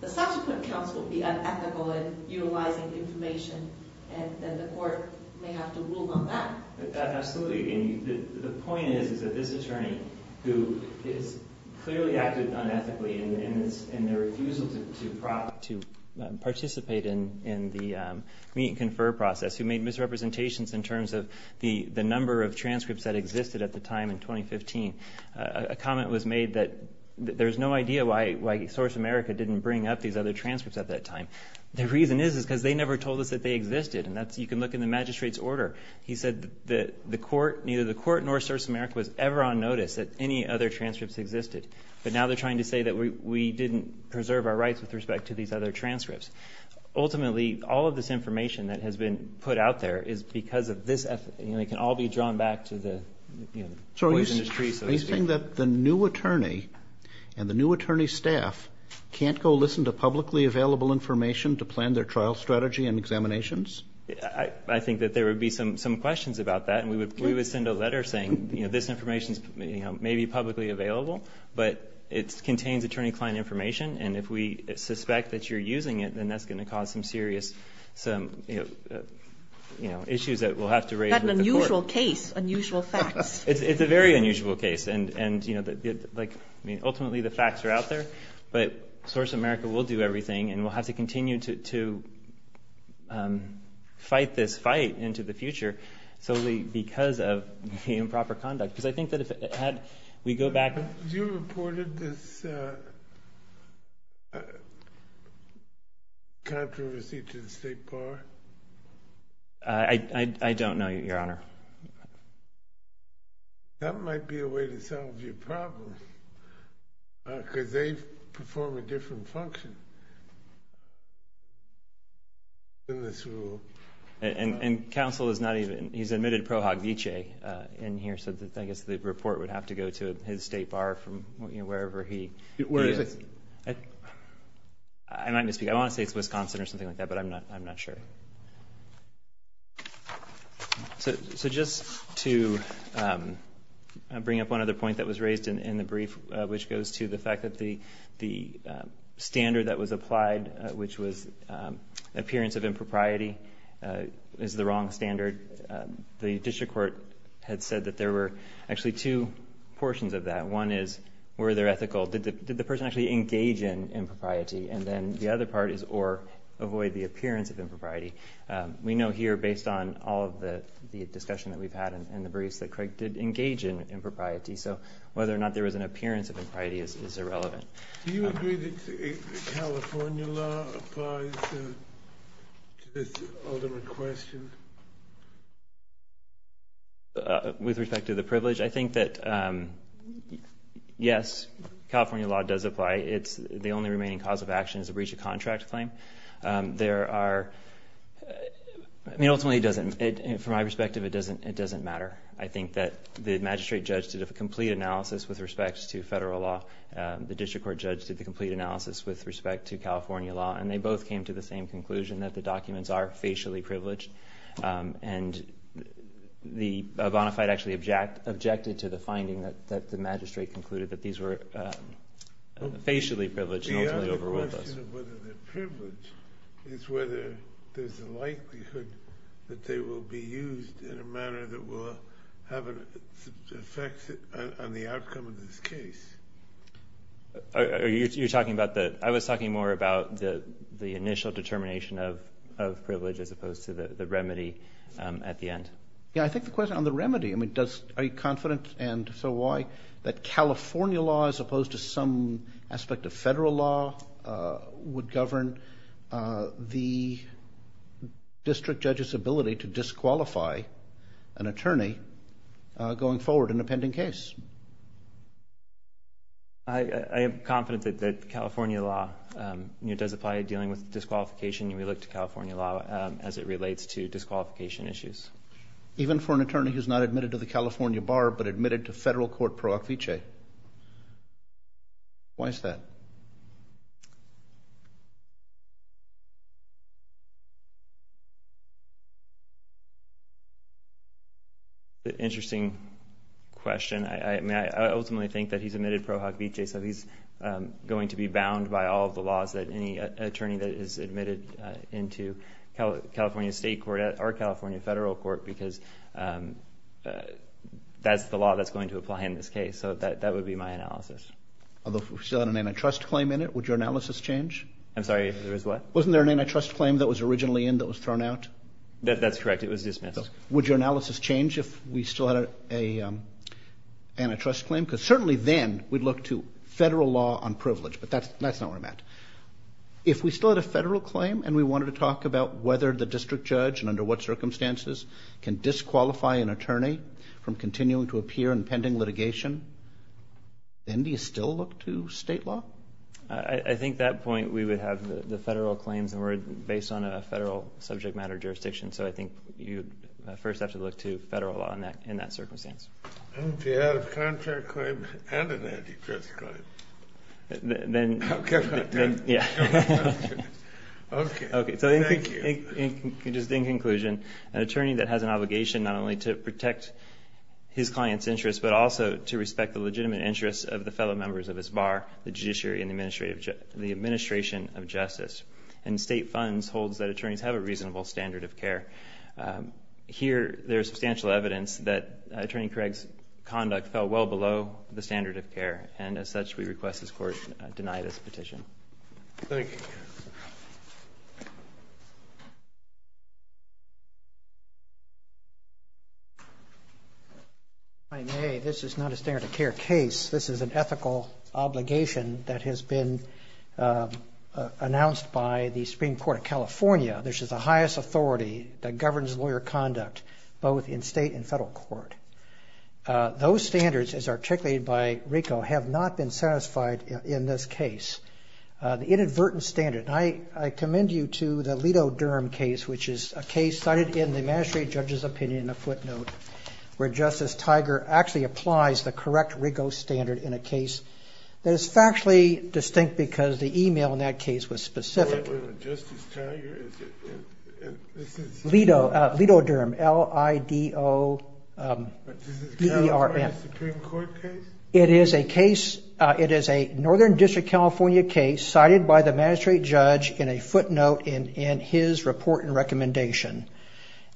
the subsequent counsel would be unethical in utilizing information and that the court may have to rule on that. Absolutely. And the point is that this attorney, who has clearly acted unethically in their refusal to participate in the meet and confer process, who made misrepresentations in terms of the number of transcripts that existed at the time in 2015, a comment was made that there's no idea why Source America didn't bring up these other transcripts at that time. The reason is because they never told us that they existed, and you can look in the magistrate's order. He said that neither the court nor Source America was ever on notice that any other transcripts existed. But now they're trying to say that we didn't preserve our rights with respect to these other transcripts. Ultimately, all of this information that has been put out there is because of this effort. It can all be drawn back to the poisonous tree. Are you saying that the new attorney and the new attorney staff can't go listen to publicly available information to plan their trial strategy and examinations? I think that there would be some questions about that, and we would send a letter saying this information may be publicly available, but it contains attorney-client information, and if we suspect that you're using it, then that's going to cause some serious issues that we'll have to raise with the court. That's an unusual case, unusual facts. It's a very unusual case. Ultimately, the facts are out there, but Source America will do everything, and we'll have to continue to fight this fight into the future solely because of the improper conduct. Because I think that if we go back— Have you reported this controversy to the state bar? I don't know, Your Honor. That might be a way to solve your problem, because they perform a different function in this rule. And counsel has not even—he's admitted Pro Hoc Vice in here, so I guess the report would have to go to his state bar from wherever he is. Where is it? I might misspeak. I want to say it's Wisconsin or something like that, but I'm not sure. So just to bring up one other point that was raised in the brief, which goes to the fact that the standard that was applied, which was appearance of impropriety, is the wrong standard. The district court had said that there were actually two portions of that. One is, were they ethical? Did the person actually engage in impropriety? And then the other part is, or avoid the appearance of impropriety. We know here, based on all of the discussion that we've had in the briefs, that Craig did engage in impropriety. So whether or not there was an appearance of impropriety is irrelevant. Do you agree that California law applies to this ultimate question? With respect to the privilege? I think that, yes, California law does apply. The only remaining cause of action is a breach of contract claim. Ultimately, from my perspective, it doesn't matter. I think that the magistrate judge did a complete analysis with respect to federal law. The district court judge did the complete analysis with respect to California law, and they both came to the same conclusion, that the documents are facially privileged. And the bona fide actually objected to the finding that the magistrate concluded that these were facially privileged and ultimately overruled us. The question of whether they're privileged is whether there's a likelihood that they will be used in a manner that will have an effect on the outcome of this case. I was talking more about the initial determination of privilege as opposed to the remedy at the end. I think the question on the remedy, are you confident, and if so, why, that California law as opposed to some aspect of federal law would govern the district judge's ability to disqualify an attorney going forward in a pending case? I am confident that California law does apply to dealing with disqualification. We look to California law as it relates to disqualification issues. Even for an attorney who's not admitted to the California bar but admitted to federal court pro hoc vice? Why is that? Interesting question. I ultimately think that he's admitted pro hoc vice, so he's going to be bound by all of the laws that any attorney that is admitted into California state court or California federal court because that's the law that's going to apply in this case. So that would be my analysis. Although if we still had an antitrust claim in it, would your analysis change? I'm sorry, there was what? Wasn't there an antitrust claim that was originally in that was thrown out? That's correct. It was dismissed. Would your analysis change if we still had an antitrust claim? Because certainly then we'd look to federal law on privilege, but that's not where I'm at. If we still had a federal claim and we wanted to talk about whether the district judge and under what circumstances can disqualify an attorney from continuing to appear in pending litigation, then do you still look to state law? I think at that point we would have the federal claims, and we're based on a federal subject matter jurisdiction, so I think you'd first have to look to federal law in that circumstance. If you had a contract claim and an antitrust claim. Then, yeah. Okay, thank you. So just in conclusion, an attorney that has an obligation not only to protect his client's interests but also to respect the legitimate interests of the fellow members of his bar, the judiciary and the administration of justice, and state funds holds that attorneys have a reasonable standard of care. Here there is substantial evidence that Attorney Craig's conduct fell well below the standard of care, and as such we request this Court deny this petition. Thank you. If I may, this is not a standard of care case. This is an ethical obligation that has been announced by the Supreme Court of California. This is the highest authority that governs lawyer conduct, both in state and federal court. Those standards, as articulated by RICO, have not been satisfied in this case. The inadvertent standard, and I commend you to the Leto Durham case, which is a case cited in the magistrate judge's opinion, a footnote, where Justice Tiger actually applies the correct RICO standard in a case that is factually distinct because the email in that case was specific. Justice Tiger? Leto Durham, L-I-D-O-D-E-R-M. This is a California Supreme Court case? It is a case, it is a Northern District, California case, cited by the magistrate judge in a footnote in his report and recommendation.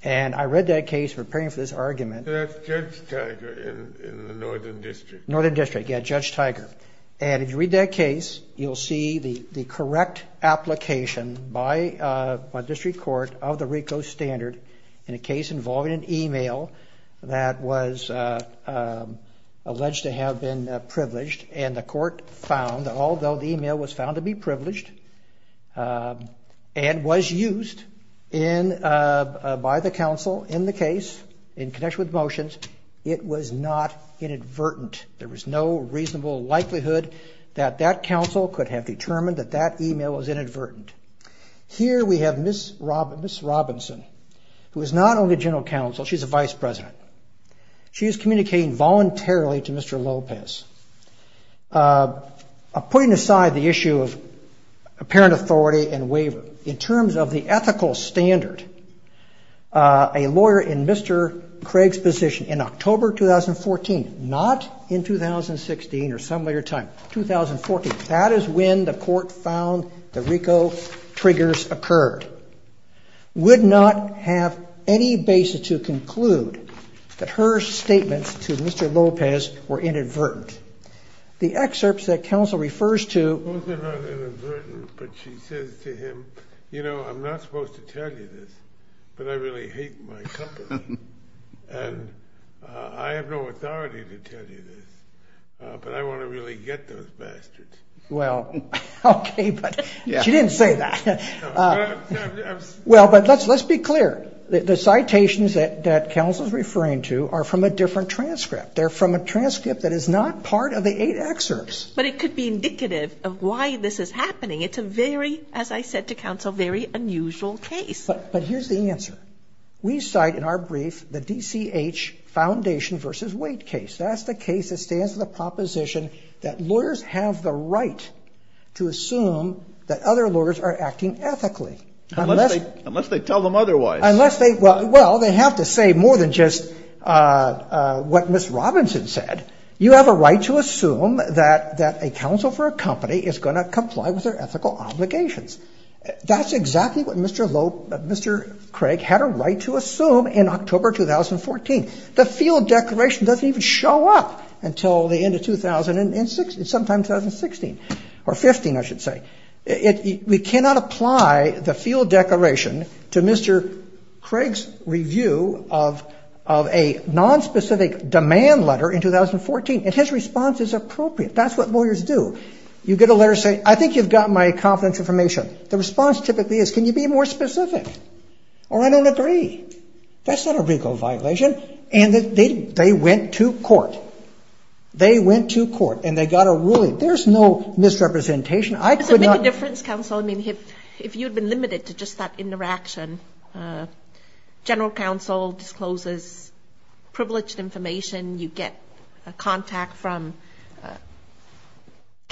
And I read that case, preparing for this argument. That's Judge Tiger in the Northern District. Northern District, yeah, Judge Tiger. And if you read that case, you'll see the correct application by district court of the RICO standard in a case involving an email that was alleged to have been privileged, and the court found, although the email was found to be privileged and was used by the counsel in the case in connection with the motions, it was not inadvertent. There was no reasonable likelihood that that counsel could have determined that that email was inadvertent. Here we have Ms. Robinson, who is not only general counsel, she's a vice president. She is communicating voluntarily to Mr. Lopez, putting aside the issue of apparent authority and waiver. In terms of the ethical standard, a lawyer in Mr. Craig's position in October 2014, not in 2016 or some later time, 2014, that is when the court found the RICO triggers occurred, would not have any basis to conclude that her statements to Mr. Lopez were inadvertent. The excerpts that counsel refers to. Those are not inadvertent, but she says to him, you know, I'm not supposed to tell you this, but I really hate my company, and I have no authority to tell you this, but I want to really get those bastards. Well, okay, but she didn't say that. Well, but let's be clear. The citations that counsel is referring to are from a different transcript. They're from a transcript that is not part of the eight excerpts. But it could be indicative of why this is happening. It's a very, as I said to counsel, very unusual case. But here's the answer. We cite in our brief the DCH foundation versus weight case. That's the case that stands for the proposition that lawyers have the right to assume that other lawyers are acting ethically. Unless they tell them otherwise. Well, they have to say more than just what Ms. Robinson said. You have a right to assume that a counsel for a company is going to comply with their ethical obligations. That's exactly what Mr. Craig had a right to assume in October 2014. The field declaration doesn't even show up until the end of 2000 and sometimes 2016, or 15, I should say. We cannot apply the field declaration to Mr. Craig's review of a nonspecific demand letter in 2014. And his response is appropriate. That's what lawyers do. You get a letter saying, I think you've got my confidence information. The response typically is, can you be more specific? Or I don't agree. That's not a legal violation. And they went to court. They went to court and they got a ruling. There's no misrepresentation. I could not. Does it make a difference, counsel? I mean, if you had been limited to just that interaction, general counsel discloses privileged information. You get a contact from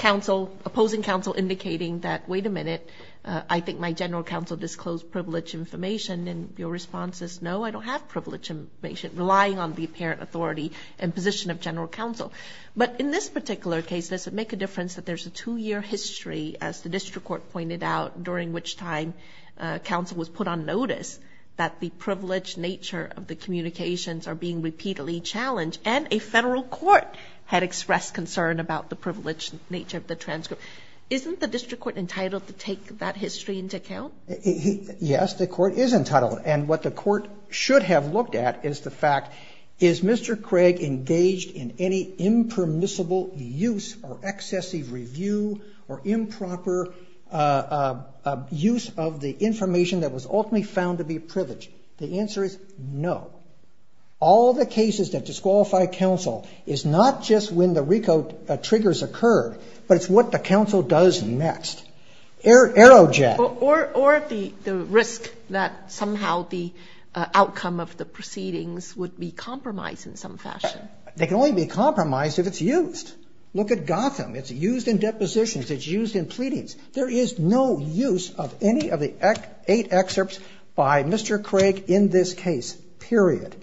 opposing counsel indicating that, wait a minute, I think my general counsel disclosed privileged information. And your response is, no, I don't have privileged information, relying on the apparent authority and position of general counsel. But in this particular case, does it make a difference that there's a two-year history, as the district court pointed out, during which time counsel was put on notice that the privileged nature of the communications are being repeatedly challenged, and a federal court had expressed concern about the privileged nature of the transcript? Isn't the district court entitled to take that history into account? Yes, the court is entitled. And what the court should have looked at is the fact, is Mr. Craig engaged in any impermissible use or excessive review or improper use of the information that was ultimately found to be privileged? The answer is no. All the cases that disqualify counsel is not just when the RICO triggers occurred, but it's what the counsel does next. Aerojet. Or the risk that somehow the outcome of the proceedings would be compromised in some fashion. They can only be compromised if it's used. Look at Gotham. It's used in depositions. It's used in pleadings. There is no use of any of the eight excerpts by Mr. Craig in this case, period.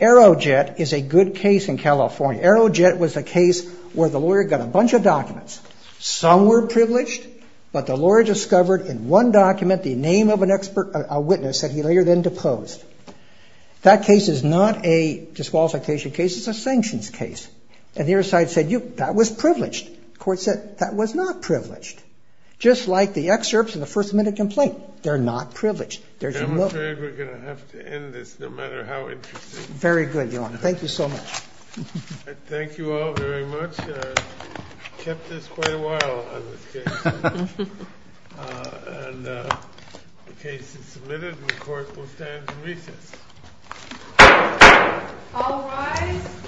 Aerojet is a good case in California. Aerojet was a case where the lawyer got a bunch of documents. Some were privileged, but the lawyer discovered in one document the name of a witness that he later then deposed. That case is not a disqualification case. It's a sanctions case. And the other side said, that was privileged. The court said, that was not privileged. Just like the excerpts in the first amendment complaint. They're not privileged. I'm afraid we're going to have to end this no matter how interesting. Very good, Your Honor. Thank you so much. Thank you all very much. Kept us quite a while on this case. And the case is submitted and the court will stand in recess. All rise.